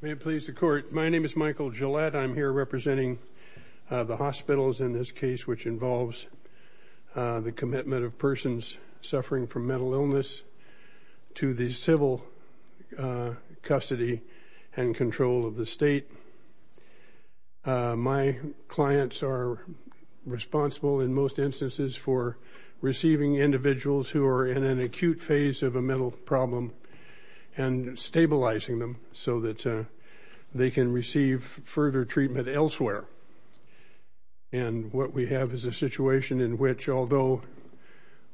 May it please the court, my name is Michael Gillette. I'm here representing the hospitals in this case which involves the commitment of persons suffering from mental illness to the civil custody and control of the state. My clients are responsible in most instances for receiving individuals who are in an acute phase of a mental problem and stabilizing them so that they can receive further treatment elsewhere. And what we have is a situation in which although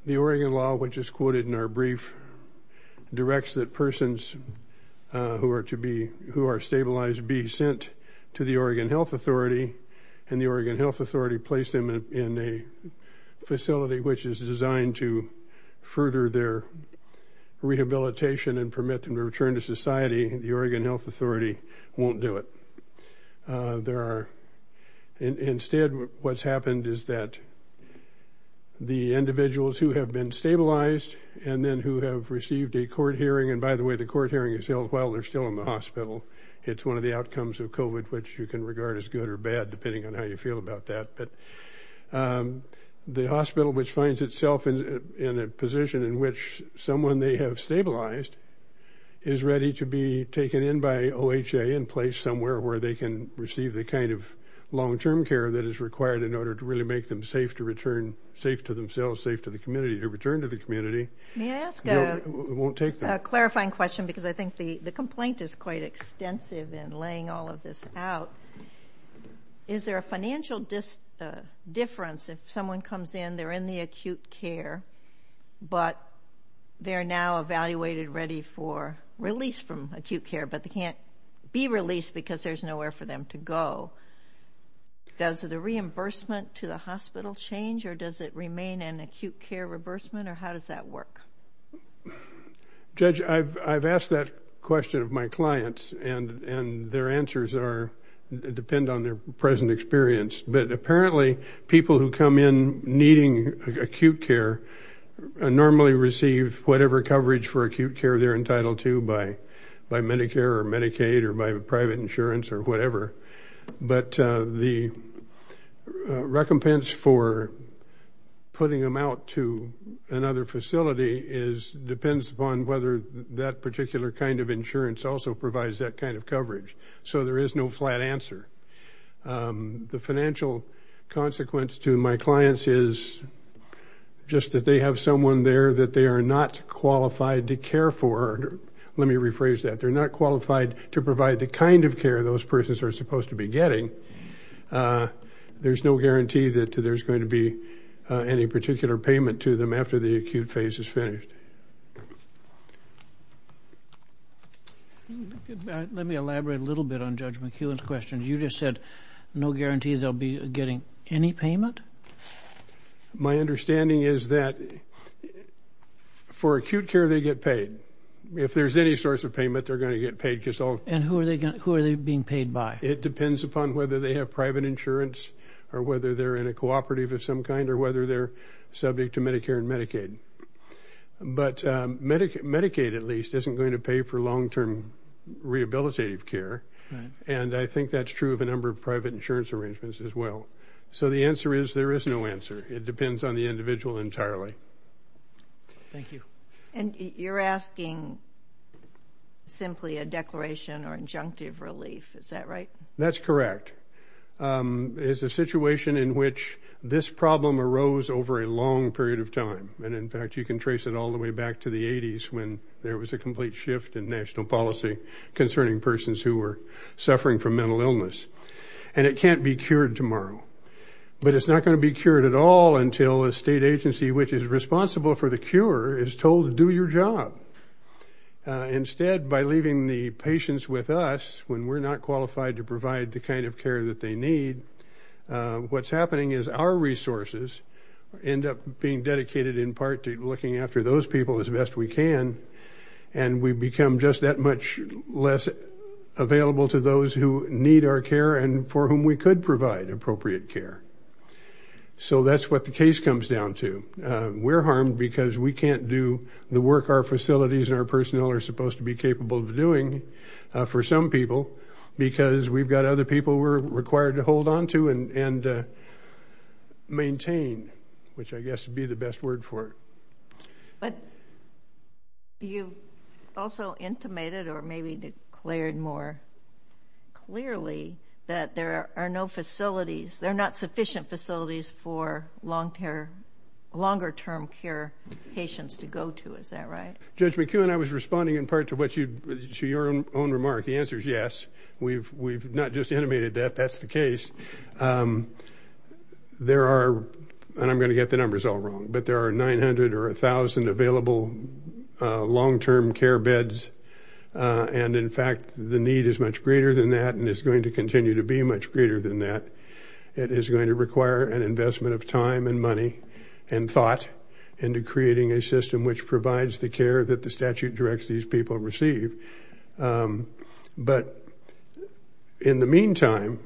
the Oregon law which is quoted in our brief directs that persons who are to be who are stabilized be sent to the Oregon Health Authority and the Oregon Health Authority placed them in a facility which is designed to further their rehabilitation and permit them to return to society, the Oregon Health Authority won't do it. There are instead what's happened is that the individuals who have been stabilized and then who have received a court hearing, and by the way the court hearing is held while they're still in the hospital, it's one of the outcomes of COVID which you can regard as good or bad depending on how you feel about that, but the hospital which finds itself in a position in which someone they have stabilized is ready to be taken in by OHA in place somewhere where they can receive the kind of long-term care that is required in order to really make them safe to return, safe to themselves, safe to the community, to return to the community. May I ask a clarifying question because I think the the complaint is quite extensive in laying all of this out. Is there a financial difference if someone comes in, they're in the acute care, but they're now evaluated ready for release from acute care, but they can't be released because there's nowhere for them to go. Does the reimbursement to the hospital change or does it remain an acute care reimbursement or how does that work? Judge, I've asked that question of my clients and and their answers are, depend on their present experience, but apparently people who come in needing acute care normally receive whatever coverage for acute care they're entitled to by by Medicare or Medicaid or by private insurance or whatever, but the recompense for putting them out to another facility is depends upon whether that particular kind of insurance also provides that kind of coverage, so there is no flat answer. The financial consequence to my clients is just that they have someone there that they are not qualified to care for. Let me rephrase that. They're not qualified to provide the kind of care those persons are supposed to be getting. There's no guarantee that there's going to be any particular payment to them after the acute phase is finished. Let me answer Judge McEwen's question. You just said no guarantee they'll be getting any payment? My understanding is that for acute care they get paid. If there's any source of payment, they're going to get paid. And who are they being paid by? It depends upon whether they have private insurance or whether they're in a cooperative of some kind or whether they're subject to Medicare and Medicaid, but Medicaid at least isn't going to pay for long-term rehabilitative care, and I think that's true of a number of private insurance arrangements as well. So the answer is there is no answer. It depends on the individual entirely. Thank you. And you're asking simply a declaration or injunctive relief, is that right? That's correct. It's a situation in which this problem arose over a long period of time, and in fact you can trace it all the way back to the 80s when there was a complete shift in national policy concerning persons who were suffering from mental illness. And it can't be cured tomorrow, but it's not going to be cured at all until a state agency which is responsible for the cure is told to do your job. Instead, by leaving the patients with us when we're not qualified to provide the kind of care that they need, what's happening is our resources end up being dedicated in part to looking after those people as best we can, and we become just that much less available to those who need our care and for whom we could provide appropriate care. So that's what the case comes down to. We're harmed because we can't do the work our facilities and our personnel are supposed to be capable of doing for some people, because we've got other people we're required to hold on to and maintain, which I guess would be the best word for it. But you also intimated or maybe declared more clearly that there are no facilities, there are not sufficient facilities for long-term, longer-term care patients to go to, is that right? Judge McEwen, I was responding in part to what you, to your own remark. The answer is yes. We've not just animated that, that's the case. There are, and I'm going to get the numbers all wrong, but there are nine hundred or a thousand available long-term care beds, and in fact the need is much greater than that and is going to continue to be much greater than that. It is going to require an investment of time and money and thought into creating a system which will receive, but in the meantime,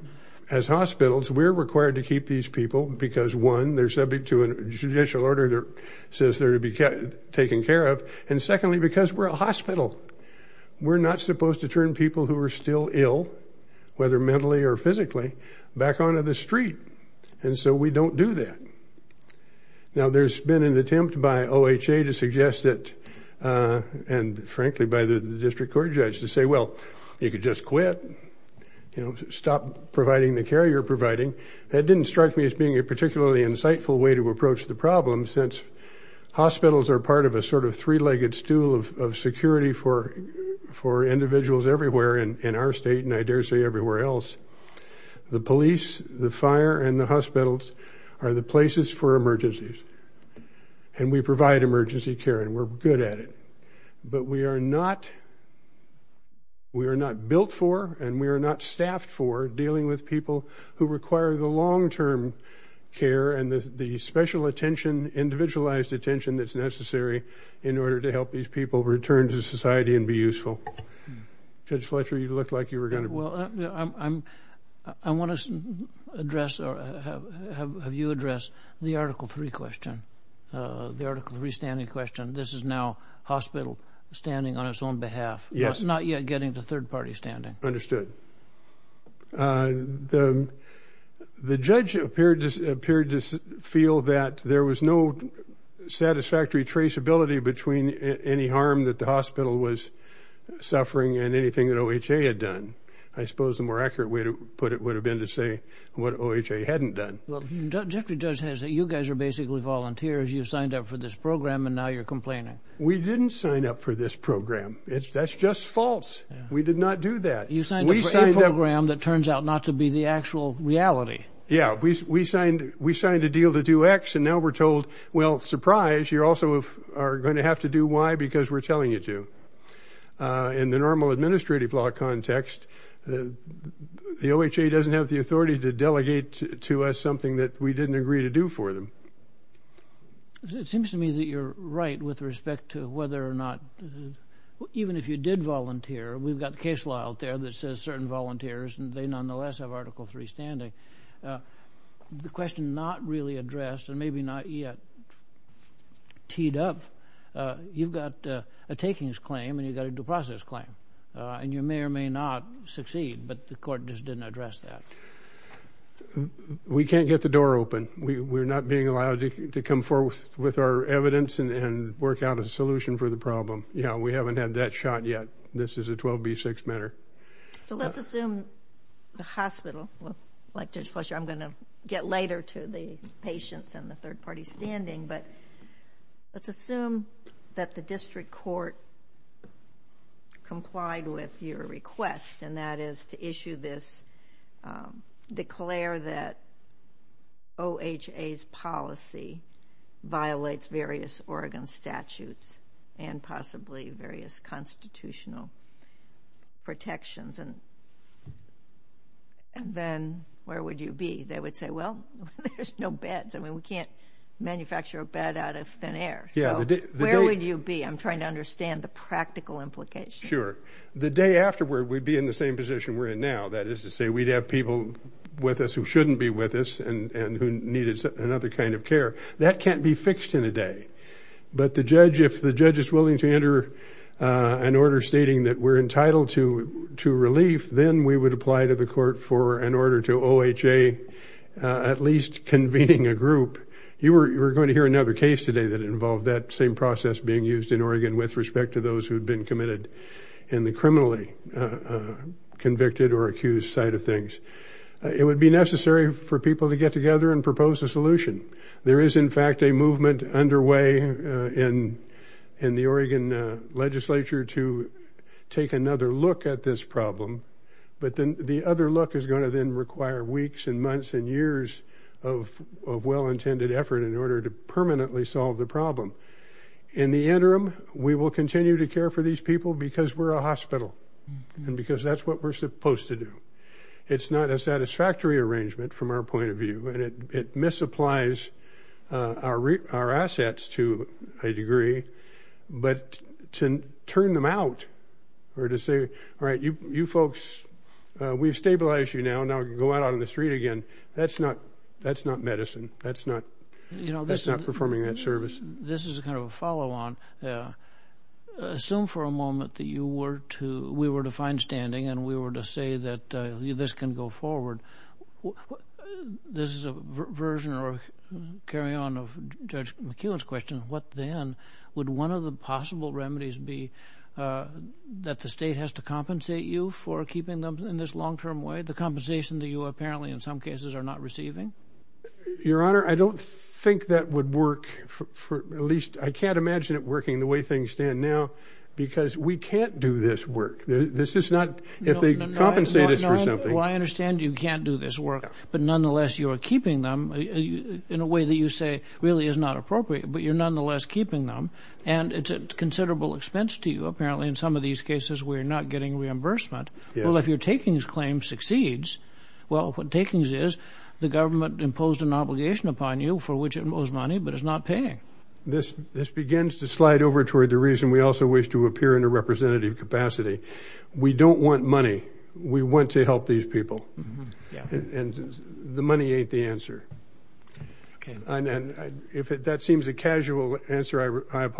as hospitals, we're required to keep these people because, one, they're subject to a judicial order that says they're to be taken care of, and secondly, because we're a hospital. We're not supposed to turn people who are still ill, whether mentally or physically, back onto the street, and so we don't do that. Now there's been an attempt by OHA to the district court judge to say, well, you could just quit, you know, stop providing the care you're providing. That didn't strike me as being a particularly insightful way to approach the problem, since hospitals are part of a sort of three-legged stool of security for individuals everywhere in our state, and I dare say everywhere else. The police, the fire, and the hospitals are the places for emergencies, and we provide emergency care, and we're good at it, but we are not built for, and we are not staffed for, dealing with people who require the long-term care and the special attention, individualized attention, that's necessary in order to help these people return to society and be useful. Judge Fletcher, you looked like you were going to... Well, I want to address, or have you addressed, the Article 3 question, the Article 3 standing question. This is now hospital standing on its own behalf, not yet getting to third-party standing. Understood. The judge appeared to feel that there was no satisfactory traceability between any harm that the hospital was suffering and anything that OHA had done. I suppose the more accurate way to put it would have been to say what OHA hadn't done. Well, Jeffrey does hesitate. You guys are basically volunteers. You signed up for this program, and now you're complaining. We didn't sign up for this program. That's just false. We did not do that. You signed up for a program that turns out not to be the actual reality. Yeah, we signed a deal to do X, and now we're told, well, surprise, you also are going to have to do Y because we're telling you to. In the normal administrative law context, the OHA doesn't have the authority to do something that we didn't agree to do for them. It seems to me that you're right with respect to whether or not, even if you did volunteer, we've got the case law out there that says certain volunteers, and they nonetheless have Article 3 standing. The question not really addressed, and maybe not yet teed up, you've got a takings claim, and you've got a due process claim, and you may or may not succeed, but the door open. We're not being allowed to come forth with our evidence and work out a solution for the problem. Yeah, we haven't had that shot yet. This is a 12b6 matter. So let's assume the hospital, like Judge Fletcher, I'm going to get later to the patients and the third party standing, but let's assume that the district court complied with your request, and that is to issue this, declare that OHA's policy violates various Oregon statutes and possibly various constitutional protections, and then where would you be? They would say, well, there's no beds. I mean, we can't manufacture a bed out of thin air. So where would you be? I'm trying to understand the practical implication. Sure. The day afterward, we'd be in the same position we're in now. That is to say, we'd have people with us who shouldn't be with us and who needed another kind of care. That can't be fixed in a day, but the judge, if the judge is willing to enter an order stating that we're entitled to relief, then we would apply to the court for an order to OHA at least convening a group. You were going to hear another case today that involved that same process being used in Oregon with respect to those who had been committed in the criminally convicted or accused side of things. It would be necessary for people to get together and propose a solution. There is, in fact, a movement underway in the Oregon legislature to take another look at this problem, but then the other look is going to then require weeks and months and years of well-intended effort in order to solve the problem. In the interim, we will continue to care for these people because we're a hospital and because that's what we're supposed to do. It's not a satisfactory arrangement from our point of view, and it misapplies our assets to a degree, but to turn them out or to say, all right, you folks, we've stabilized you now, now you can go out on the street again, that's not medicine. That's not performing that service. This is kind of a follow-on. Assume for a moment that we were to find standing and we were to say that this can go forward. This is a version or carry on of Judge McEwen's question, what then? Would one of the possible remedies be that the state has to compensate you for keeping them in this long-term way, the compensation that you apparently in some cases are not receiving? Your Honor, I don't think that would work, at least I can't imagine it working the way things stand now, because we can't do this work. This is not, if they compensate us for something... Well, I understand you can't do this work, but nonetheless you are keeping them in a way that you say really is not appropriate, but you're nonetheless keeping them, and it's a considerable expense to you apparently in some of these cases where you're not getting reimbursement. Well, if your takings claim succeeds, well, what takings is the government imposed an obligation upon you for which it owes money, but it's not paying. This begins to slide over toward the reason we also wish to appear in a representative capacity. We don't want money. We want to help these people, and the money ain't the answer. If that seems a casual answer, I We're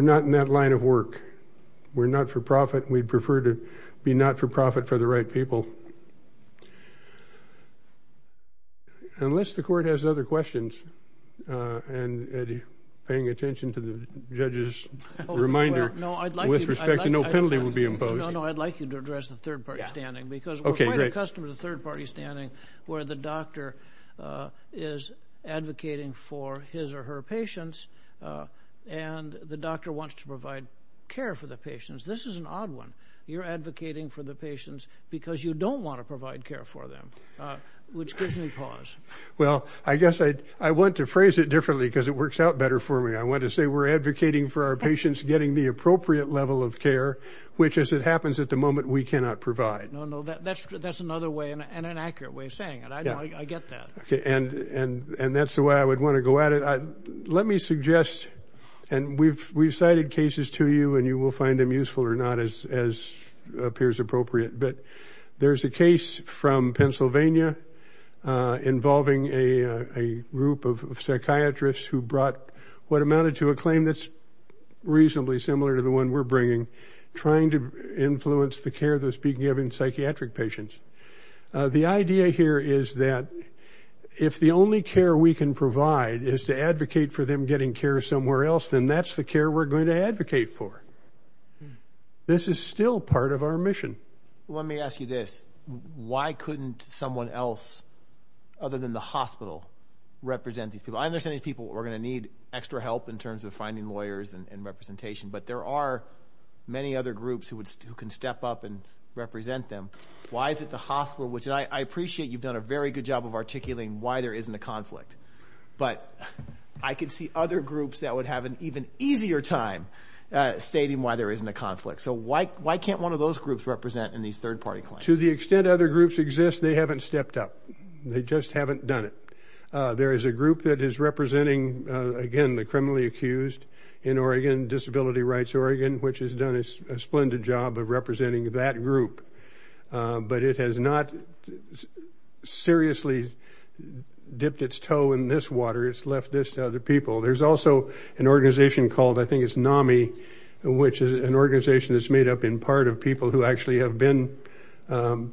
not in that line of work. We're not for profit. We'd prefer to be not for profit for the right people. Unless the court has other questions, and Eddie, paying attention to the judge's reminder with respect to no penalty will be imposed. No, no, I'd like you to address the third party standing, because we're quite accustomed to the third party standing where the doctor is advocating for his or her patients, and the doctor wants to provide care for the patients. This is an odd one. You're advocating for the patients because you don't want to provide care for them, which gives me pause. Well, I guess I'd, I want to phrase it differently because it works out better for me. I want to say we're advocating for our patients getting the appropriate level of care, which as it happens at the moment, we cannot provide. No, no, that's, that's another way and an accurate way of saying it. I get that. Okay, and, and, and that's the way I would want to go at it. Let me suggest, and we've, we've cited cases to you and you will find them useful or not as, as appears appropriate, but there's a case from Pennsylvania involving a group of psychiatrists who brought what amounted to a claim that's reasonably similar to the one we're bringing, trying to influence the care that's being given psychiatric patients. The idea here is that if the only care we can provide is to advocate for them getting care somewhere else, then that's the care we're going to advocate for. This is still part of our mission. Let me ask you this. Why couldn't someone else, other than the hospital, represent these people? I understand these people are gonna need extra help in terms of finding lawyers and representation, but there are many other groups who would, who can step up and represent them. Why is it the hospital, which I appreciate you've done a very good job of articulating why there isn't a conflict, but I could see other groups that would have an even easier time stating why there isn't a conflict. So why, why can't one of those groups represent in these third-party claims? To the extent other groups exist, they haven't stepped up. They just haven't done it. There is a group that is representing, again, the criminally accused in Oregon, Disability Rights Oregon, which has done a splendid job of representing that group, but it has not seriously dipped its toe in this water. It's left this to other people. There's also an organization called, I think it's NAMI, which is an organization that's made up in part of people who actually have been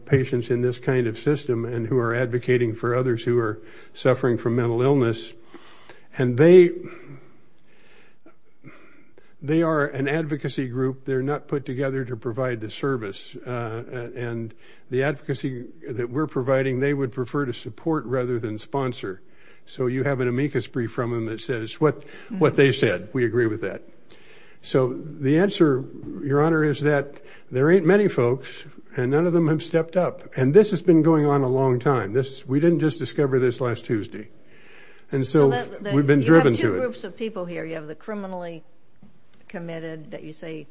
patients in this kind of system and who are advocating for others who are suffering from mental illness. And they, they are an advocacy group. They're not put together to provide the that we're providing. They would prefer to support rather than sponsor. So you have an amicus brief from them that says what, what they said. We agree with that. So the answer, Your Honor, is that there ain't many folks and none of them have stepped up. And this has been going on a long time. This, we didn't just discover this last Tuesday. And so we've been driven to it. You have two groups of people here. You have the criminally committed that you say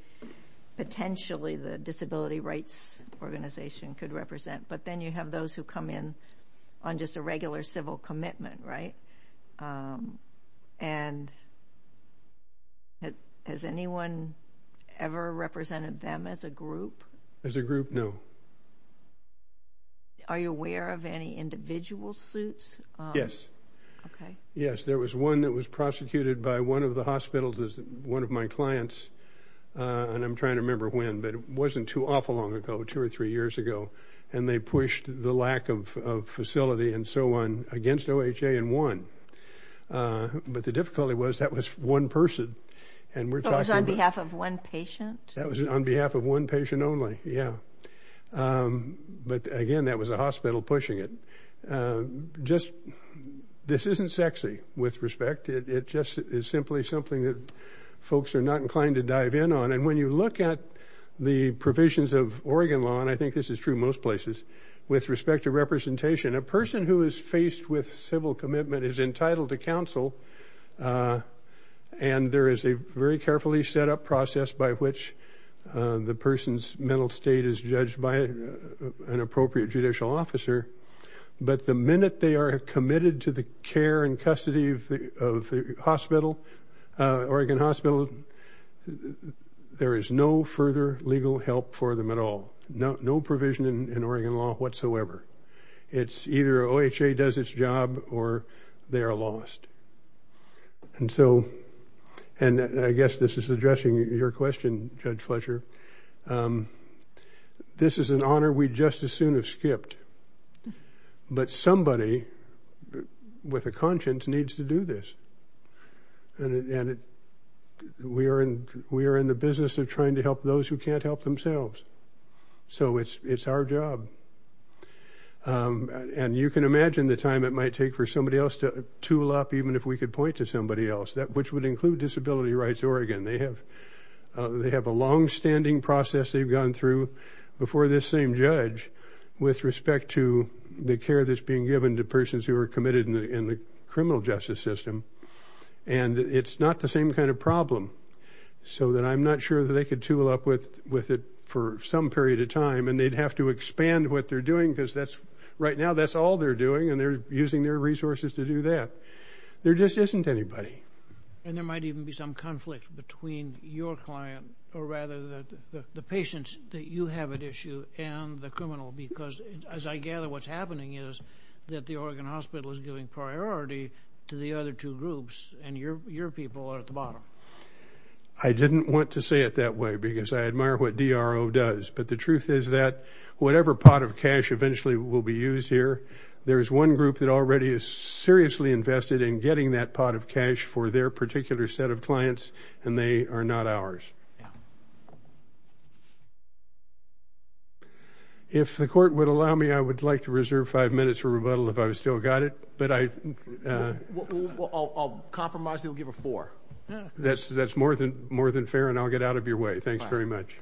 potentially the Disability Rights Organization could represent. But then you have those who come in on just a regular civil commitment, right? And has anyone ever represented them as a group? As a group, no. Are you aware of any individual suits? Yes. Okay. Yes, there was one that was prosecuted by one of the hospitals, one of my clients, and I'm too awful long ago, two or three years ago. And they pushed the lack of facility and so on against OHA and won. But the difficulty was that was one person. And we're talking on behalf of one patient? That was on behalf of one patient only, yeah. But again, that was a hospital pushing it. Just, this isn't sexy with respect. It just is simply something that folks are not inclined to dive in on. And when you look at the provisions of Oregon law, and I think this is true most places, with respect to representation, a person who is faced with civil commitment is entitled to counsel. And there is a very carefully set up process by which the person's mental state is judged by an appropriate judicial officer. But the minute they are committed to the care and custody of the there is no further legal help for them at all. No provision in Oregon law whatsoever. It's either OHA does its job or they are lost. And so, and I guess this is addressing your question, Judge Fletcher, this is an honor we just as soon have skipped. But somebody with a conscience needs to do this. And we are in the business of trying to help those who can't help themselves. So it's our job. And you can imagine the time it might take for somebody else to tool up, even if we could point to somebody else, that which would include Disability Rights Oregon. They have a long-standing process they've gone through before this same judge with respect to the care that's being given to persons who are committed in the criminal justice system. And it's not the same kind of problem. So that I'm not sure that they could tool up with with it for some period of time and they'd have to expand what they're doing because that's right now that's all they're doing and they're using their resources to do that. There just isn't anybody. And there might even be some conflict between your client or rather the patients that you have at issue and the criminal. Because as I gather what's happening is that the Oregon Hospital is priority to the other two groups and your people are at the bottom. I didn't want to say it that way because I admire what DRO does. But the truth is that whatever pot of cash eventually will be used here, there's one group that already is seriously invested in getting that pot of cash for their particular set of clients and they are not ours. If the court would allow me I would like to I'll compromise. They'll give a four. That's that's more than more than fair and I'll get out of your way. Thanks very much.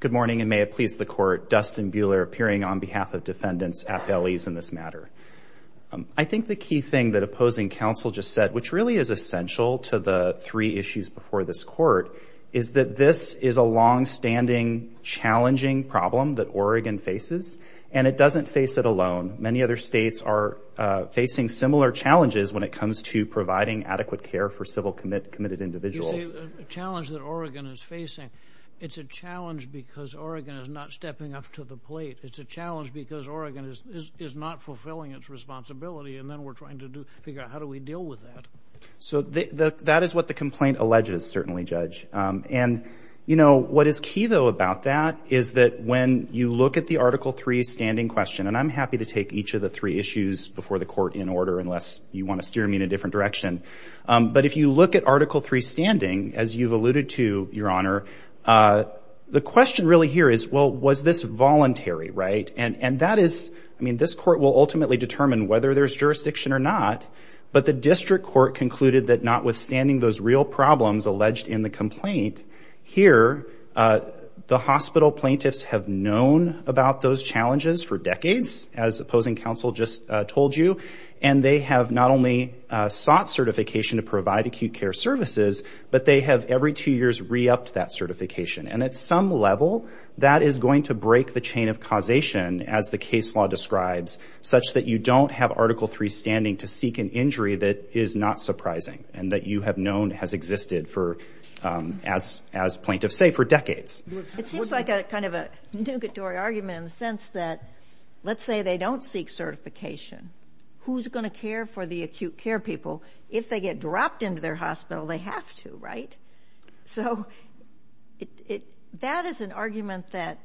Good morning and may it please the court. Dustin Buehler appearing on behalf of defendants at bellies in this matter. I think the key thing that opposing counsel just said, which really is essential to the three issues before this court, is that this is a long-standing challenging problem that Oregon faces and it doesn't face it alone. Many other states are facing similar challenges when it comes to providing adequate care for civil commit committed individuals. The challenge that Oregon is facing, it's a challenge because Oregon is not stepping up to the plate. It's a challenge because Oregon is not fulfilling its responsibility and then we're trying to figure out how do we deal with that. So that is what the complaint alleges certainly judge and you know what is key though about that is that when you look at the article 3 standing question and I'm happy to take each of the three issues before the court in order unless you want to steer me in a different direction but if you look at article 3 standing as you've alluded to your honor the question really here is well was this voluntary right and and that is I mean this court will ultimately determine whether there's jurisdiction or not but the district court concluded that notwithstanding those real problems alleged in the complaint here the hospital plaintiffs have known about those challenges for decades as opposing counsel just told you and they have not only sought certification to provide acute care services but they have every two years re-upped that certification and at some level that is going to break the chain of causation as the case law describes such that you don't have article 3 standing to seek an injury that is not surprising and that you have known has existed for as as plaintiffs say for decades. It seems like a kind of a nugatory argument in the sense that let's say they don't seek certification who's going to care for the acute care people if they get dropped into their hospital they have to right so it that is an argument that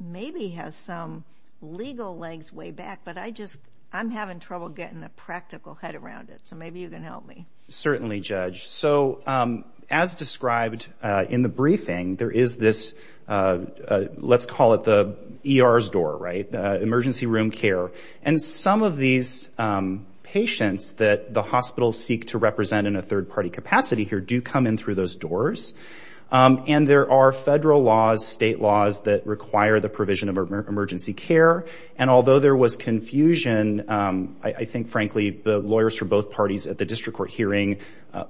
maybe has some legal legs way back but I just I'm having trouble getting a practical head around it so maybe you can help me. Certainly judge so as described in the briefing there is this let's call it the ER's door right the emergency room care and some of these patients that the hospitals seek to represent in a third party capacity here do come in through those doors and there are federal laws state laws that require the provision of emergency care and although there was confusion I think frankly the lawyers for both parties at the district court hearing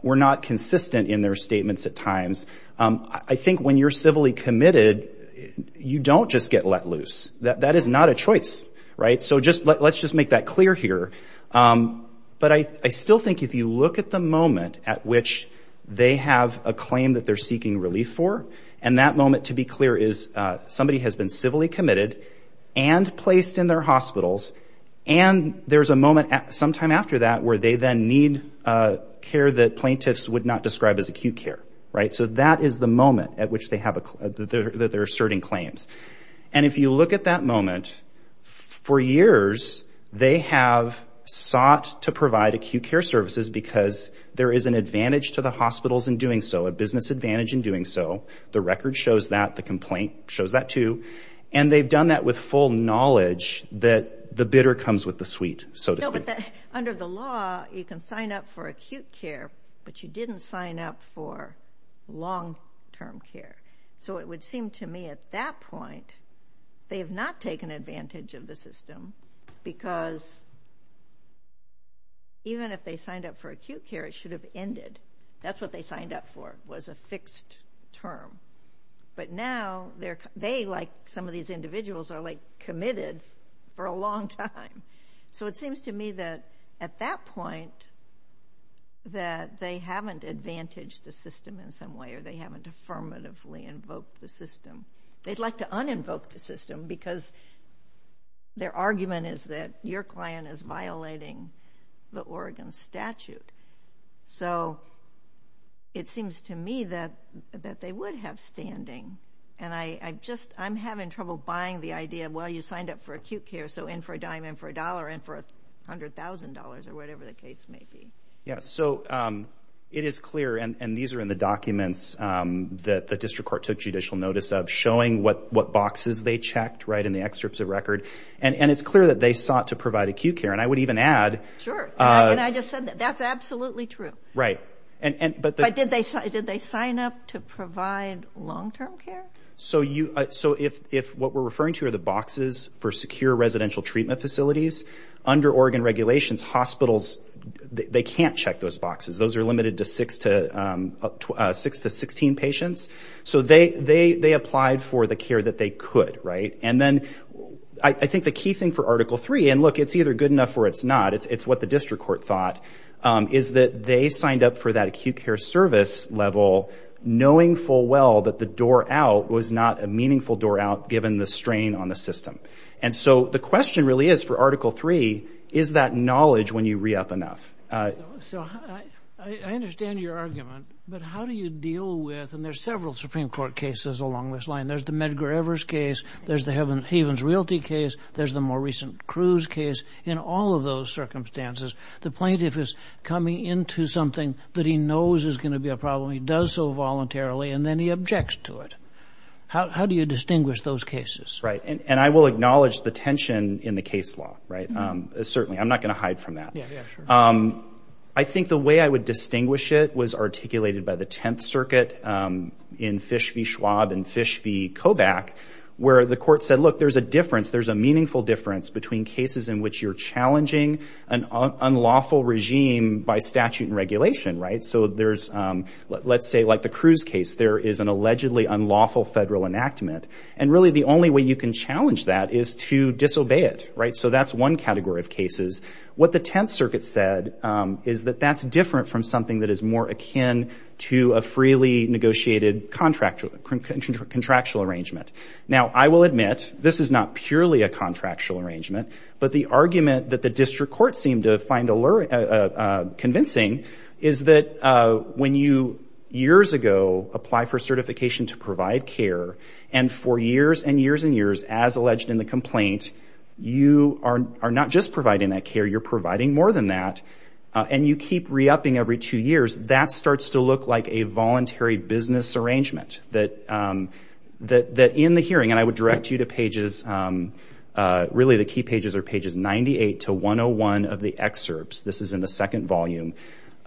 were not consistent in their statements at times I think when you're civilly committed you don't just get let loose that that is not a choice right so just let's just make that clear here but I still think if you look at the moment at which they have a claim that they're seeking relief for and that moment to be clear is somebody has been civilly committed and placed in their hospitals and there's a moment at sometime after that where they then need care that plaintiffs would not describe as acute care right so that is the moment at which they have a that they're asserting claims and if you look at that moment for years they have sought to provide acute care services because there is an advantage to the hospitals in doing so a business advantage in doing so the record shows that the complaint shows that too and they've done that with full knowledge that the bidder comes with the suite so to speak under the law you can sign up for acute care but you didn't sign up for long-term care so it would seem to me at that point they have not taken advantage of the system because even if they signed up for acute care it should have ended that's what they signed up for was a fixed term but now they're they like some of these individuals are like committed for a long time so it seems to me that at that point that they haven't advantaged the system in some way or they haven't affirmatively invoked the system they'd like to un-invoke the system because their argument is that your client is violating the Oregon statute so it seems to me that that they would have standing and I just I'm having trouble buying the idea well you signed up for acute care so in for a dime in for a dollar and for a hundred thousand dollars or whatever the case may be. Yes so it is clear and these are in the documents that the district court took judicial notice of showing what what boxes they checked right in the excerpts of record and and it's clear that they sought to provide acute care and I would even add that's absolutely true right and but did they sign up to provide long-term care? So you so if if what we're referring to are the boxes for secure residential treatment facilities under Oregon regulations hospitals they can't check those boxes those are limited to six to six to sixteen patients so they they applied for the care that they could right and then I think the key thing for article three and look it's either good enough or it's not it's what the district court thought is that they signed up for that acute care service level knowing full well that the door out was not a meaningful door out given the strain on the system and so the question really is for article three is that knowledge when you re-up enough. I understand your argument but how do you deal with and along this line there's the Medgar Evers case there's the Havens Realty case there's the more recent Cruz case in all of those circumstances the plaintiff is coming into something that he knows is going to be a problem he does so voluntarily and then he objects to it how do you distinguish those cases? Right and I will acknowledge the tension in the case law right certainly I'm not gonna hide from that I think the way I would distinguish it was articulated by the Tenth Circuit in Fish v. Schwab and Fish v. Kobach where the court said look there's a difference there's a meaningful difference between cases in which you're challenging an unlawful regime by statute and regulation right so there's let's say like the Cruz case there is an allegedly unlawful federal enactment and really the only way you can challenge that is to disobey it right so that's one category of cases what the Tenth Circuit said is that that's different from something that is more akin to a freely negotiated contractual arrangement. Now I will admit this is not purely a contractual arrangement but the argument that the district court seemed to find convincing is that when you years ago apply for certification to provide care and for years and years and years as alleged in the complaint you are not just providing that care you're providing more than that and you keep re-upping every two years that starts to look like a voluntary business arrangement that in the hearing and I would direct you to pages really the key pages are pages 98 to 101 of the excerpts this is in the second volume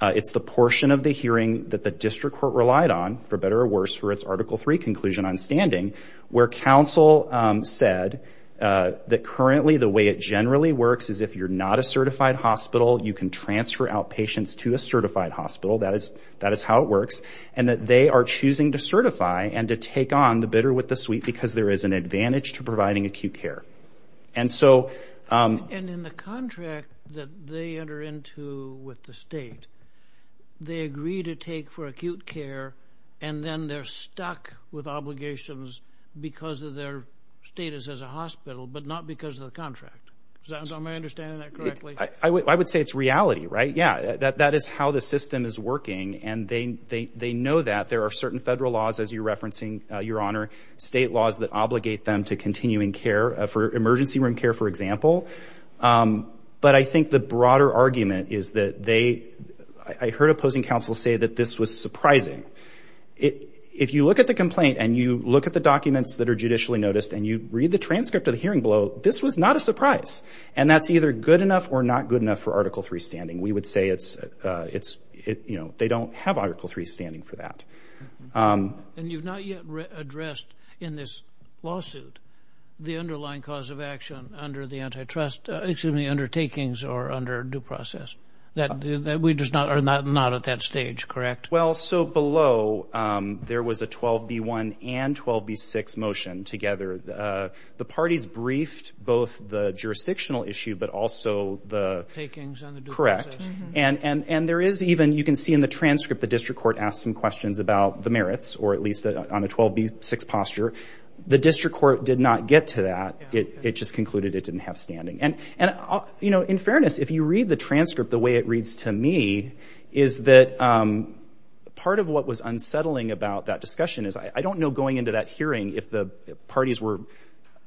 it's the portion of the hearing that the district court relied on for better or worse for its article 3 conclusion on standing where counsel said that currently the way it generally works is if you're not a certified hospital you can transfer out patients to a certified hospital that is that is how it works and that they are choosing to certify and to take on the bidder with the suite because there is an advantage to providing acute care and so they agree to take for acute care and then they're stuck with obligations because of their status as a hospital but not because of the contract I would say it's reality right yeah that that is how the system is working and they they know that there are certain federal laws as you're referencing your honor state laws that obligate them to continuing care for emergency room care for example but I think the broader argument is that they I heard opposing counsel say that this was surprising it if you look at the complaint and you look at the documents that are judicially noticed and you read the transcript of the hearing below this was not a surprise and that's either good enough or not good enough for article 3 standing we would say it's it's it you know they don't have article 3 standing for that and you've not yet addressed in this lawsuit the underlying cause of action under the antitrust excuse me undertakings or under due process that we just not are not not at that stage correct well so below there was a 12b1 and 12b6 motion together the parties briefed both the jurisdictional issue but also the correct and and and there is even you can see in the transcript the district court asked some questions about the merits or at least on a 12b6 posture the district court did not get to that it just concluded it didn't have standing and and you know in fairness if you read the transcript the way it reads to me is that part of what was unsettling about that discussion is I don't know going into that hearing if the parties were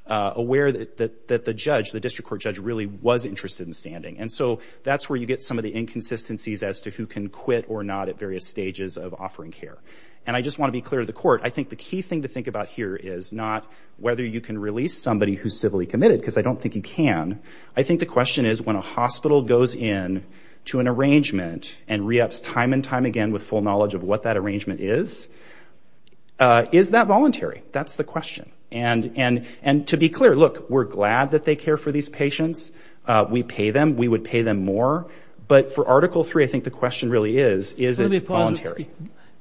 aware that that that the judge the district court judge really was interested in standing and so that's where you get some of the inconsistencies as to who can quit or not at various stages of offering care and I just want to be clear the court I think the key thing to think about here is not whether you can release somebody who's civilly committed because I don't think you can I think the question is when a hospital goes in to an arrangement and reups time and time again with full knowledge of what that arrangement is is that voluntary that's the question and and and to be clear look we're glad that they care for these patients we pay them we would pay them more but for article 3 I think the question really is is it voluntary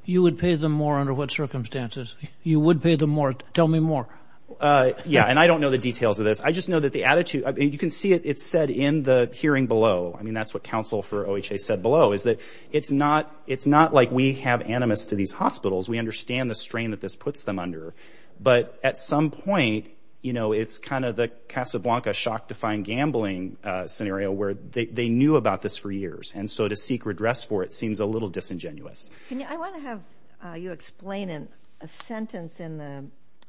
you would pay them more under what circumstances you would pay them more tell me more yeah and I don't know the details of this I just know that the attitude you can see it it said in the hearing below I mean that's what counsel for OHA said below is that it's not it's not like we have animus to these hospitals we understand the strain that this puts them under but at some point you know it's kind of the Casablanca shock to find gambling scenario where they knew about this for years and so to seek redress for it seems a little disingenuous you explain in a sentence in the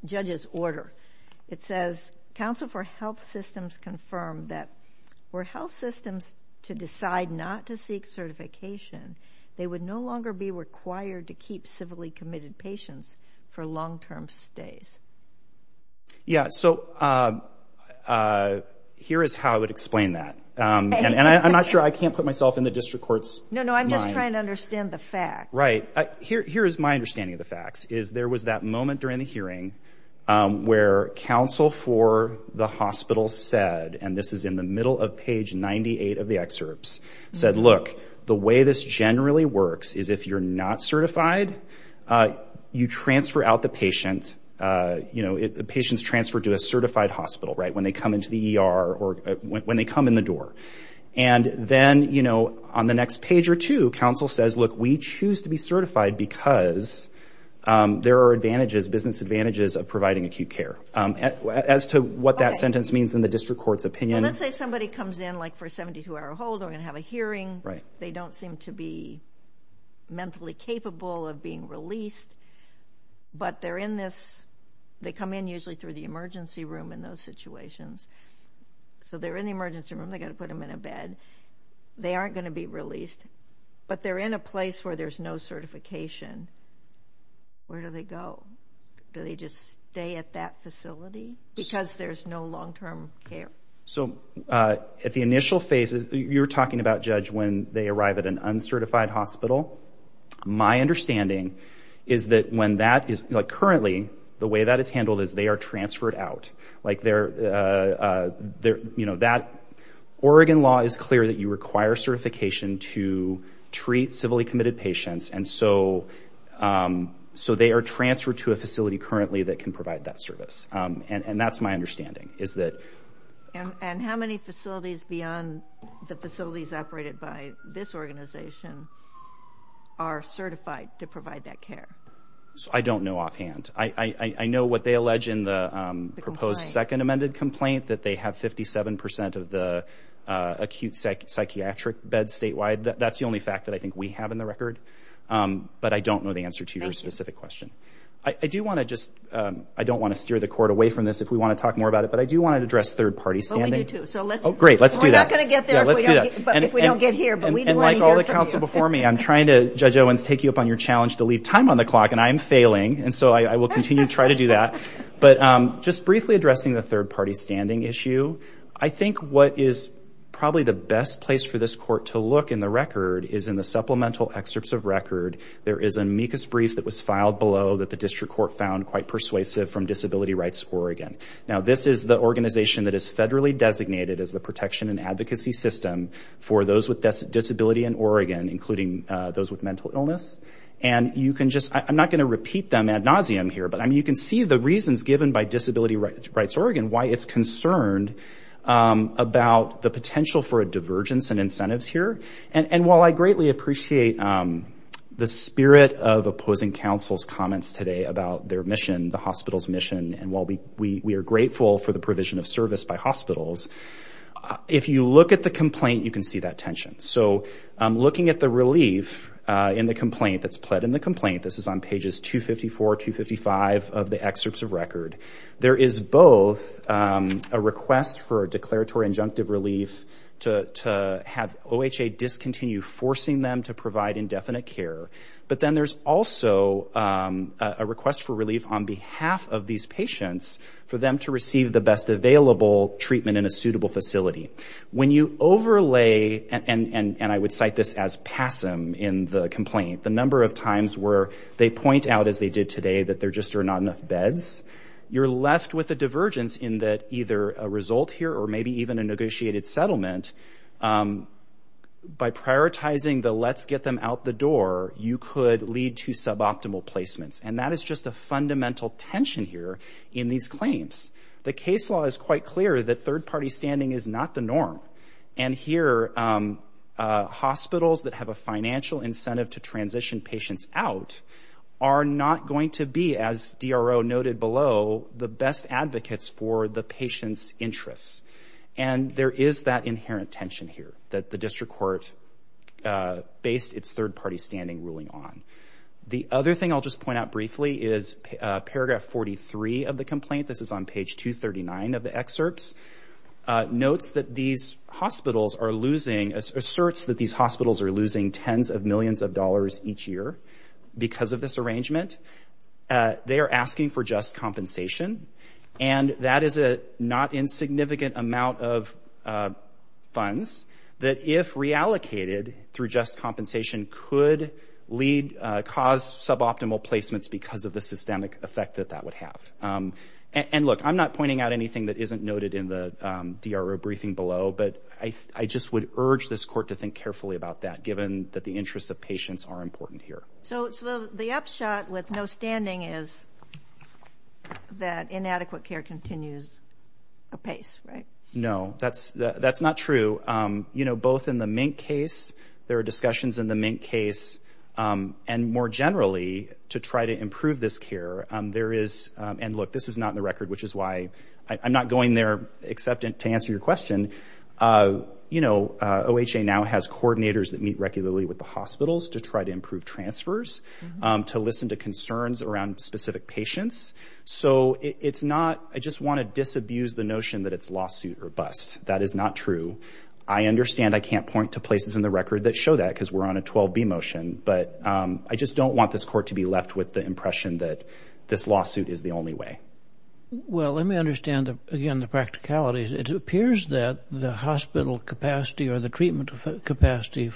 judge's order it confirmed that we're health systems to decide not to seek certification they would no longer be required to keep civilly committed patients for long-term stays yeah so here is how I would explain that and I'm not sure I can't put myself in the district courts no no I'm just trying to understand the fact right here is my understanding of the facts is there was that moment during the hearing where counsel for the hospital said and this is in the middle of page 98 of the excerpts said look the way this generally works is if you're not certified you transfer out the patient you know if the patient's transferred to a certified hospital right when they come into the ER or when they come in the door and then you know on the next page or two counsel says look we choose to be certified because there are advantages business advantages of providing acute care as to what that sentence means in the district courts opinion let's say somebody comes in like for 72-hour hold we're gonna have a hearing right they don't seem to be mentally capable of being released but they're in this they come in usually through the emergency room in those situations so they're in the emergency room they got to put them in a bed they they're in a place where there's no certification where do they go do they just stay at that facility because there's no long-term care so at the initial phases you're talking about judge when they arrive at an uncertified hospital my understanding is that when that is like currently the way that is handled is they are transferred out like they're there you know that Oregon law is clear that you require certification to treat civilly committed patients and so so they are transferred to a facility currently that can provide that service and and that's my understanding is that and how many facilities beyond the facilities operated by this organization are certified to provide that care so I don't know offhand I I know what they allege in the proposed second amended complaint that they have 57% of the acute psychiatric beds statewide that's the only fact that I think we have in the record but I don't know the answer to your specific question I do want to just I don't want to steer the court away from this if we want to talk more about it but I do want to address third parties great let's do that before me I'm trying to judge Owens take you up on your challenge to leave time on the clock and I'm failing and so I will addressing the third-party standing issue I think what is probably the best place for this court to look in the record is in the supplemental excerpts of record there is an amicus brief that was filed below that the district court found quite persuasive from Disability Rights Oregon now this is the organization that is federally designated as the protection and advocacy system for those with this disability in Oregon including those with mental illness and you can just I'm not going to repeat them ad nauseum here but I mean you can see the reasons given by Disability Rights Oregon why it's concerned about the potential for a divergence and incentives here and and while I greatly appreciate the spirit of opposing counsel's comments today about their mission the hospital's mission and while we we are grateful for the provision of service by hospitals if you look at the complaint you can see that tension so looking at the relief in the complaint that's pled in the complaint this is on pages 254 255 of the excerpts of record there is both a request for a declaratory injunctive relief to have OHA discontinue forcing them to provide indefinite care but then there's also a request for relief on behalf of these patients for them to receive the best available treatment in a suitable facility when you overlay and and and I would cite this as passive in the complaint the number of times where they point out as they did today that there just are not enough beds you're left with a divergence in that either a result here or maybe even a negotiated settlement by prioritizing the let's get them out the door you could lead to suboptimal placements and that is just a fundamental tension here in these claims the case law is quite clear that third party standing is not the norm and here hospitals that have a financial incentive to transition patients out are not going to be as DRO noted below the best advocates for the patient's interests and there is that inherent tension here that the district court based its third-party standing ruling on the other thing I'll just point out briefly is paragraph 43 of the complaint this is on page 239 of the excerpts notes that these hospitals are losing tens of millions of dollars each year because of this arrangement they are asking for just compensation and that is a not insignificant amount of funds that if reallocated through just compensation could lead cause suboptimal placements because of the systemic effect that that would have and look I'm not pointing out anything that isn't noted in the DRO briefing below but I just would urge this court to think carefully about that given that the interests of patients are important here so the upshot with no standing is that inadequate care continues apace right no that's that's not true you know both in the mink case there are discussions in the mink case and more generally to try to improve this care there is and look this is not in the record which is why I'm not going there except to answer your question you know OHA now has coordinators that meet regularly with the hospitals to try to improve transfers to listen to concerns around specific patients so it's not I just want to disabuse the notion that it's lawsuit or bust that is not true I understand I can't point to places in the record that show that because we're on a 12b motion but I just don't want this court to be left with the well let me understand again the practicalities it appears that the hospital capacity or the treatment capacity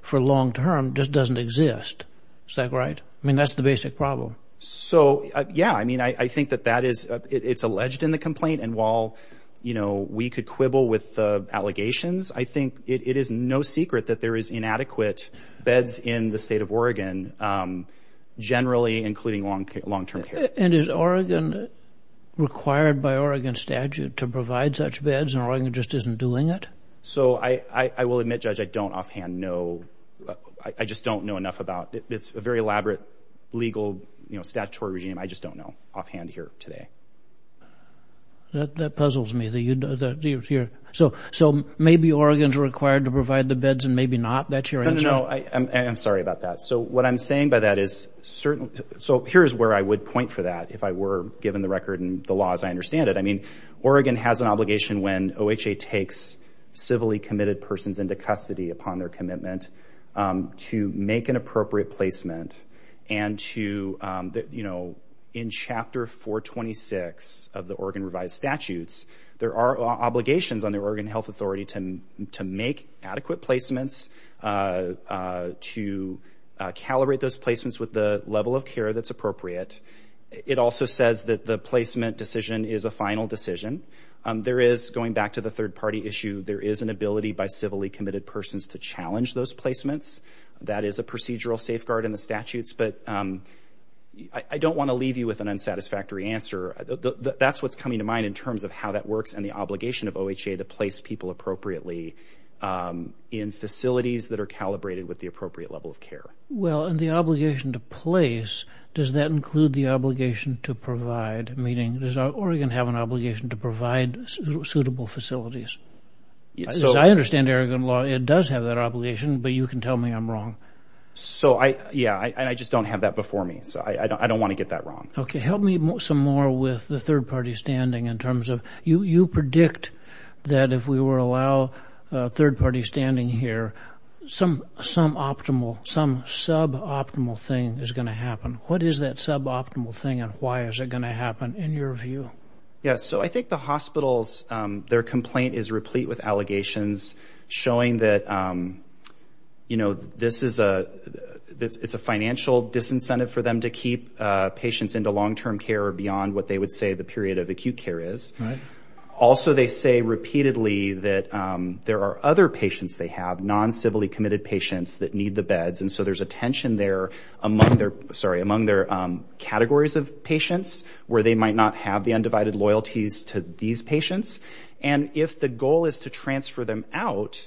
for long term just doesn't exist is that right I mean that's the basic problem so yeah I mean I think that that is it's alleged in the complaint and while you know we could quibble with allegations I think it is no secret that there is inadequate beds in the state of Oregon generally including long-term care and is Oregon required by Oregon statute to provide such beds and Oregon just isn't doing it so I I will admit judge I don't offhand know I just don't know enough about it it's a very elaborate legal you know statutory regime I just don't know offhand here today that puzzles me that you know that you're here so so maybe Oregon's required to provide the beds and maybe not that's your answer no I am sorry about that so what I'm saying by that is certain so here's where I would point for that if I were given the record and the laws I understand it I mean Oregon has an obligation when OHA takes civilly committed persons into custody upon their commitment to make an appropriate placement and to that you know in chapter 426 of the Oregon revised statutes there are obligations on the Oregon Health Authority to make adequate placements to calibrate those it also says that the placement decision is a final decision there is going back to the third party issue there is an ability by civilly committed persons to challenge those placements that is a procedural safeguard in the statutes but I don't want to leave you with an unsatisfactory answer that's what's coming to mind in terms of how that works and the obligation of OHA to place well and the obligation to place does that include the obligation to provide meaning does Oregon have an obligation to provide suitable facilities yes I understand Aragon law it does have that obligation but you can tell me I'm wrong so I yeah I just don't have that before me so I don't want to get that wrong okay help me move some more with the third party standing in terms of you you predict that if we were allow third-party standing here some some optimal some sub optimal thing is going to happen what is that sub optimal thing and why is it going to happen in your view yes so I think the hospitals their complaint is replete with allegations showing that you know this is a it's a financial disincentive for them to keep patients into long-term care or beyond what they would say the period of acute care is also they say repeatedly that there are other patients they have non civilly committed patients that need the beds and so there's a tension there among their sorry among their categories of patients where they might not have the undivided loyalties to these patients and if the goal is to transfer them out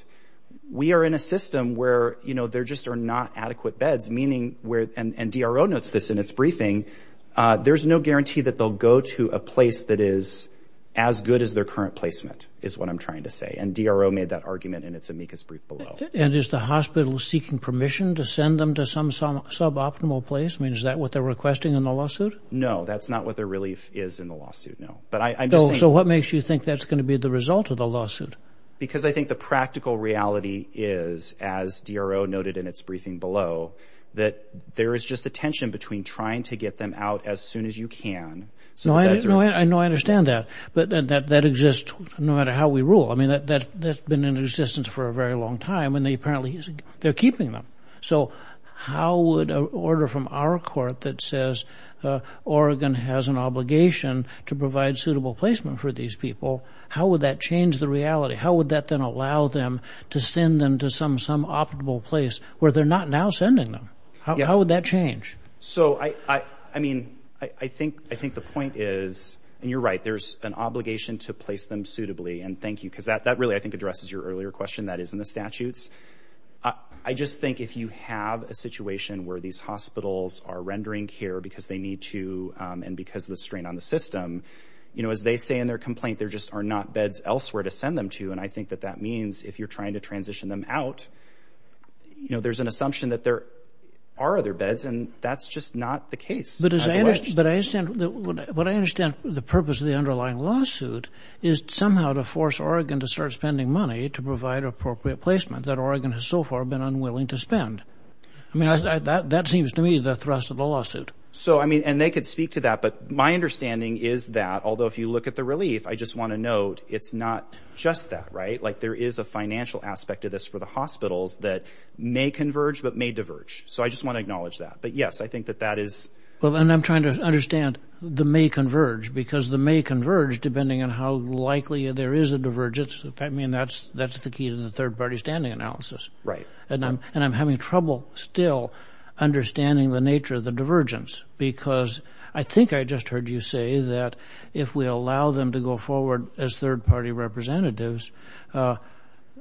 we are in a system where you know there just are not adequate beds meaning where and DRO notes this in its briefing there's no guarantee that they'll go to a place that is as good as their current placement is what I'm trying to say and DRO made that argument in its amicus brief below and is the hospital seeking permission to send them to some some suboptimal place means that what they're requesting in the lawsuit no that's not what their relief is in the lawsuit no but I know so what makes you think that's going to be the result of the lawsuit because I think the practical reality is as DRO noted in its briefing below that there is just a to get them out as soon as you can so I know I understand that but that that exists no matter how we rule I mean that that's been in existence for a very long time and they apparently they're keeping them so how would a order from our court that says Oregon has an obligation to provide suitable placement for these people how would that change the reality how would that then allow them to send them to some some optimal place where they're not now sending them how would that change so I I mean I think I think the point is and you're right there's an obligation to place them suitably and thank you because that that really I think addresses your earlier question that is in the statutes I just think if you have a situation where these hospitals are rendering care because they need to and because the strain on the system you know as they say in their complaint there just are not beds elsewhere to send them to and I think that that means if you're trying to transition them out you know there's an and that's just not the case but as I understand what I understand the purpose of the underlying lawsuit is somehow to force Oregon to start spending money to provide appropriate placement that Oregon has so far been unwilling to spend I mean that that seems to me the thrust of the lawsuit so I mean and they could speak to that but my understanding is that although if you look at the relief I just want to note it's not just that right like there is a financial aspect of this for the hospitals that may converge but may diverge so I just want to acknowledge that but yes I think that that is well and I'm trying to understand the may converge because the may converge depending on how likely there is a divergence I mean that's that's the key to the third party standing analysis right and I'm and I'm having trouble still understanding the nature of the divergence because I think I just heard you say that if we allow them to go forward as third party representatives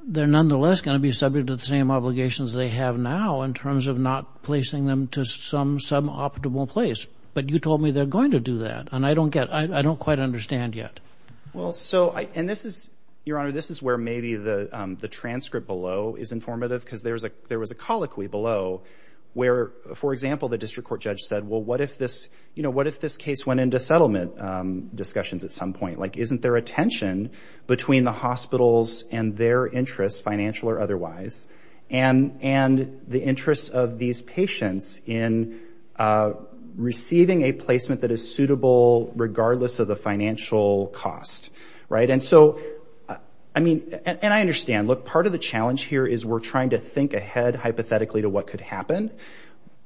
they're nonetheless going to be subject to the same obligations they have now in terms of not placing them to some some optimal place but you told me they're going to do that and I don't get I don't quite understand yet well so I and this is your honor this is where maybe the the transcript below is informative because there's a there was a colloquy below where for example the district court judge said well what if this you know what if this case went into settlement discussions at some point like isn't there a tension between the hospitals and their interests financial or otherwise and and the interests of these patients in receiving a placement that is suitable regardless of the financial cost right and so I mean and I understand look part of the challenge here is we're trying to think ahead hypothetically to what could happen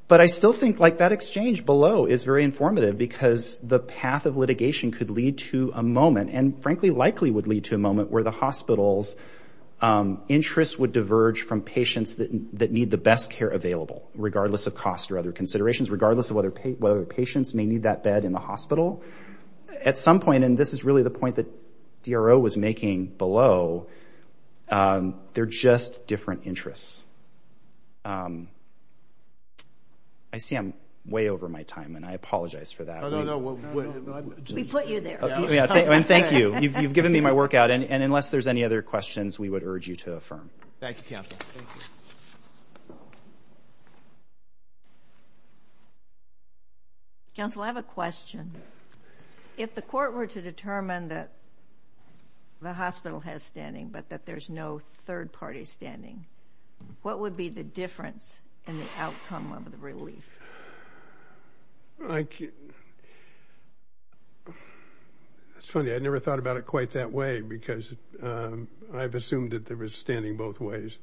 but I still think like that exchange below is very informative because the path of litigation could lead to a moment and frankly likely would lead to a moment where the hospital's interests would diverge from patients that need the best care available regardless of cost or other considerations regardless of whether patients may need that bed in the hospital at some point and this is really the point that DRO was making below they're just different interests I see I'm way over my time and I apologize for that we put you there thank you you've given me my workout and and unless there's any other questions we would urge you to affirm thank you counsel I have a question if the court were to determine that the hospital has standing but that there's no third party standing what would be the difference in the outcome of the relief like it's funny I never thought about it quite that way because I've assumed that there was standing both ways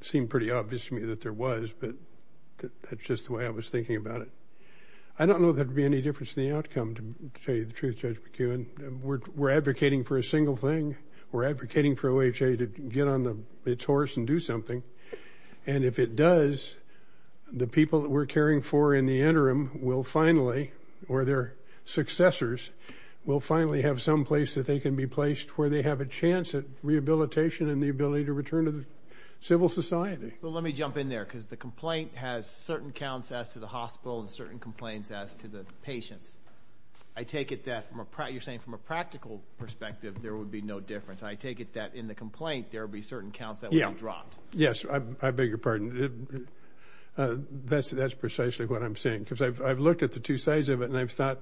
seemed pretty obvious to me that there was but that's just the way I was thinking about it I don't know that would be any difference in the outcome to tell you the truth judge McEwen we're advocating for a single thing we're advocating for a way to get on it's horse and do something and if it does the people that we're caring for in the interim will finally or their successors will finally have some place that they can be placed where they have a chance at rehabilitation and the ability to return to the civil society well let me jump in there because the complaint has certain counts as to the hospital and certain complaints as to the patients I take it that from a prior saying from a practical perspective there would be no difference I take it that in the complaint there will be certain counts that yeah yes I beg your pardon that's that's precisely what I'm saying because I've looked at the two sides of it and I've thought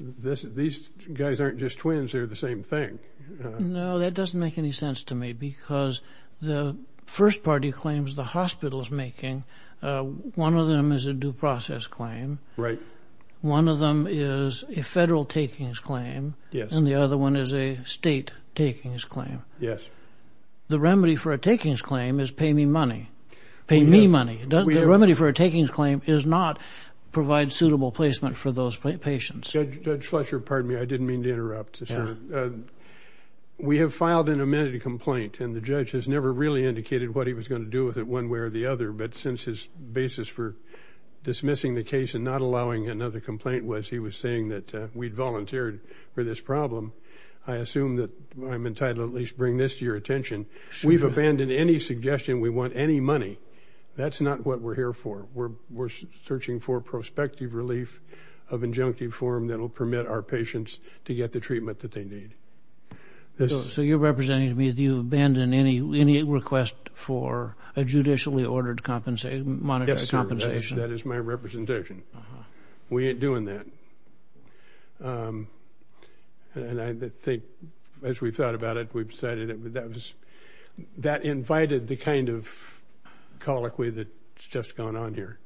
this these guys aren't just twins they're the same thing no that doesn't make any sense to me because the first party claims the hospitals making one of them is a due process claim right one of them is a federal takings claim yes and the other one is a state takings claim yes the remedy for a takings claim is pay me money pay me money the remedy for a takings claim is not provide suitable placement for those patients judge Fletcher pardon me I didn't mean to interrupt we have filed an amended complaint and the judge has never really indicated what he was going to do with it one way or the other but since his basis for dismissing the case and not allowing another complaint was he was saying that we volunteered for this problem I assume that I'm entitled at least bring this to your attention we've abandoned any suggestion we want any money that's not what we're here for we're we're searching for prospective relief of injunctive form that will permit our patients to get the treatment that they need so you're representing to me if you abandon any any request for a judicially ordered compensation monetary compensation that is my representation we ain't doing that and I think as we've thought about it we've decided it but that was that invited the kind of colloquy that it's just gone on here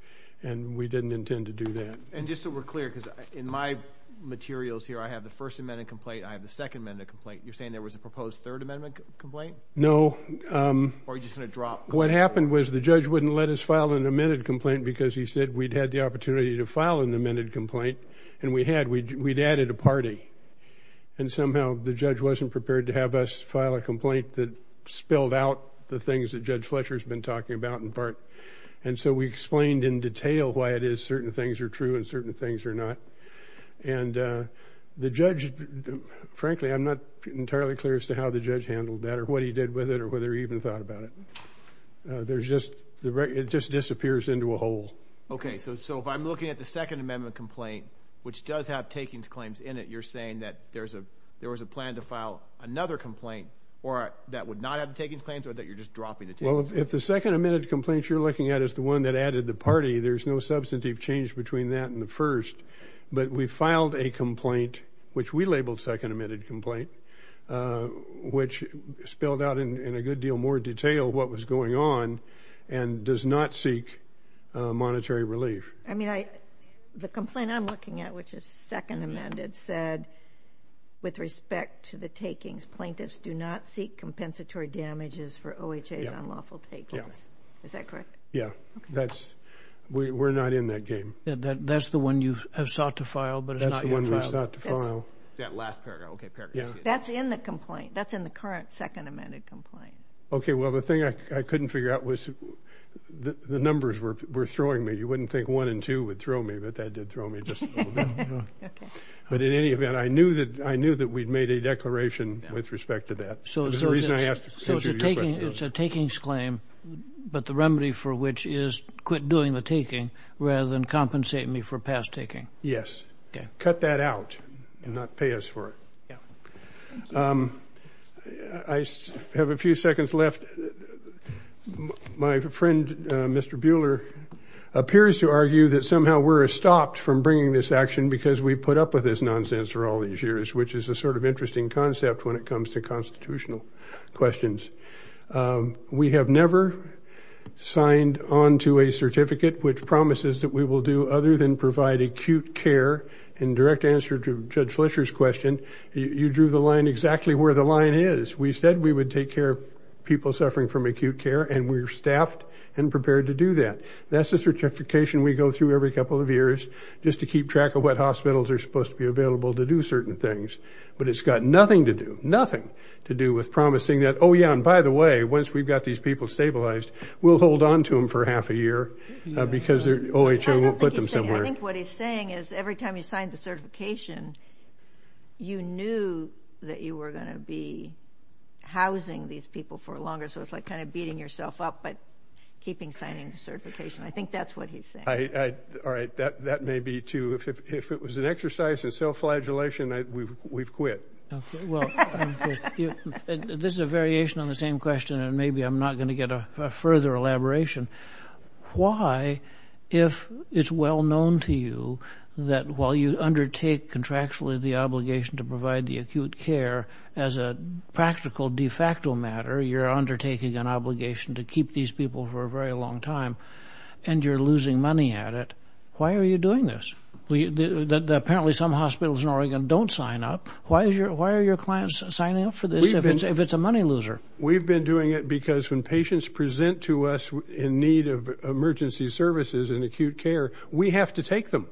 and we didn't intend to do that and just so we're clear because in my materials here I have the first amendment complaint I have the second minute complaint you're saying there was a proposed third amendment complaint no or just gonna drop what happened was the judge wouldn't let us file an amended complaint because he said we'd had the opportunity to file an amended complaint and we had we'd added a party and somehow the judge wasn't prepared to have us file a complaint that spilled out the things that judge Fletcher has been talking about in part and so we explained in detail why it is certain things are true and certain things are not and the judge frankly I'm not entirely clear as to how the judge handled that or what he did with it or whether he even thought about it there's just the right it just disappears into a hole okay so so if I'm looking at the Second Amendment complaint which does have takings claims in it you're saying that there's a there was a plan to file another complaint or that would not have taken claims or that you're just dropping it well if the second amended complaints you're looking at is the one that added the party there's no substantive change between that and the first but we filed a complaint which we labeled second amended complaint which spelled out in a good deal more detail what was going on and does not seek monetary relief I mean I the complaint I'm looking at which is second amended said with respect to the takings plaintiffs do not seek compensatory damages for OHA's unlawful takings is that correct yeah that's we're not in that game that's the one you have sought to file but it's not one that's not to second amended complaint okay well the thing I couldn't figure out was the numbers were throwing me you wouldn't think one and two would throw me but that did throw me just but in any event I knew that I knew that we'd made a declaration with respect to that so it's a taking it's a takings claim but the remedy for which is quit doing the taking rather than compensate me for paying us for it I have a few seconds left my friend mr. Buehler appears to argue that somehow we're stopped from bringing this action because we put up with this nonsense for all these years which is a sort of interesting concept when it comes to constitutional questions we have never signed on to a certificate which promises that we will do other than provide acute care in you drew the line exactly where the line is we said we would take care of people suffering from acute care and we're staffed and prepared to do that that's the certification we go through every couple of years just to keep track of what hospitals are supposed to be available to do certain things but it's got nothing to do nothing to do with promising that oh yeah and by the way once we've got these people stabilized we'll hold on to them for half a year because they're OH I won't put them somewhere I think what he's saying is every time you signed the certification you knew that you were going to be housing these people for longer so it's like kind of beating yourself up but keeping signing the certification I think that's what he's saying all right that that may be too if it was an exercise in self-flagellation we've quit this is a variation on the same question and maybe I'm not going to get a further elaboration why if it's well known to you that while you undertake contractually the obligation to provide the acute care as a practical de facto matter you're undertaking an obligation to keep these people for a very long time and you're losing money at it why are you doing this we that apparently some hospitals in Oregon don't sign up why is your why are your clients signing up for this if it's if it's a money loser we've been doing it because when patients present to us in need of emergency services and acute care we have to take them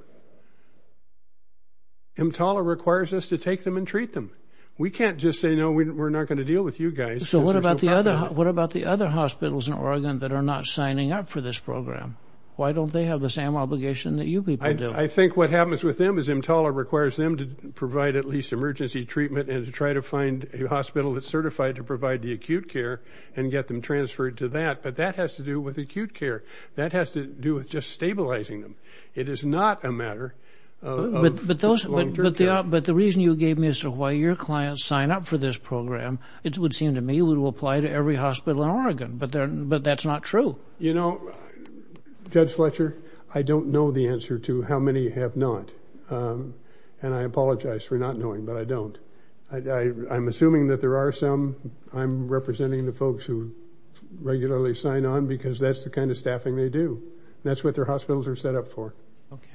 I'm taller requires us to take them and treat them we can't just say no we're not going to deal with you guys so what about the other what about the other hospitals in Oregon that are not signing up for this program why don't they have the same obligation that you do I think what happens with them is in taller requires them to provide at least emergency treatment and to try to find a hospital that's certified to provide the acute care and get them transferred to that but that has to do with acute care that has to do with just stabilizing them it is not a matter but those but the up but the reason you gave me so why your clients sign up for this program it would seem to me we will apply to every hospital in Oregon but there but that's not true you know judge Fletcher I don't know the answer to how many have not and I apologize for not knowing but I don't I'm assuming that there are some I'm representing the regularly sign on because that's the kind of staffing they do that's what their hospitals are set up for okay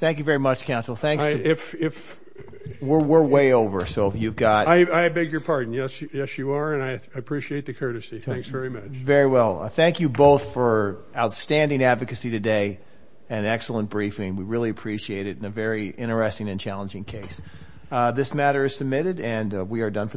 thank you very much counsel thank you if we're way over so you've got I beg your pardon yes yes you are and I appreciate the courtesy thanks very much very well I thank you both for outstanding advocacy today an excellent briefing we really appreciate it in a very interesting and challenging case this matter is submitted and we are done for the day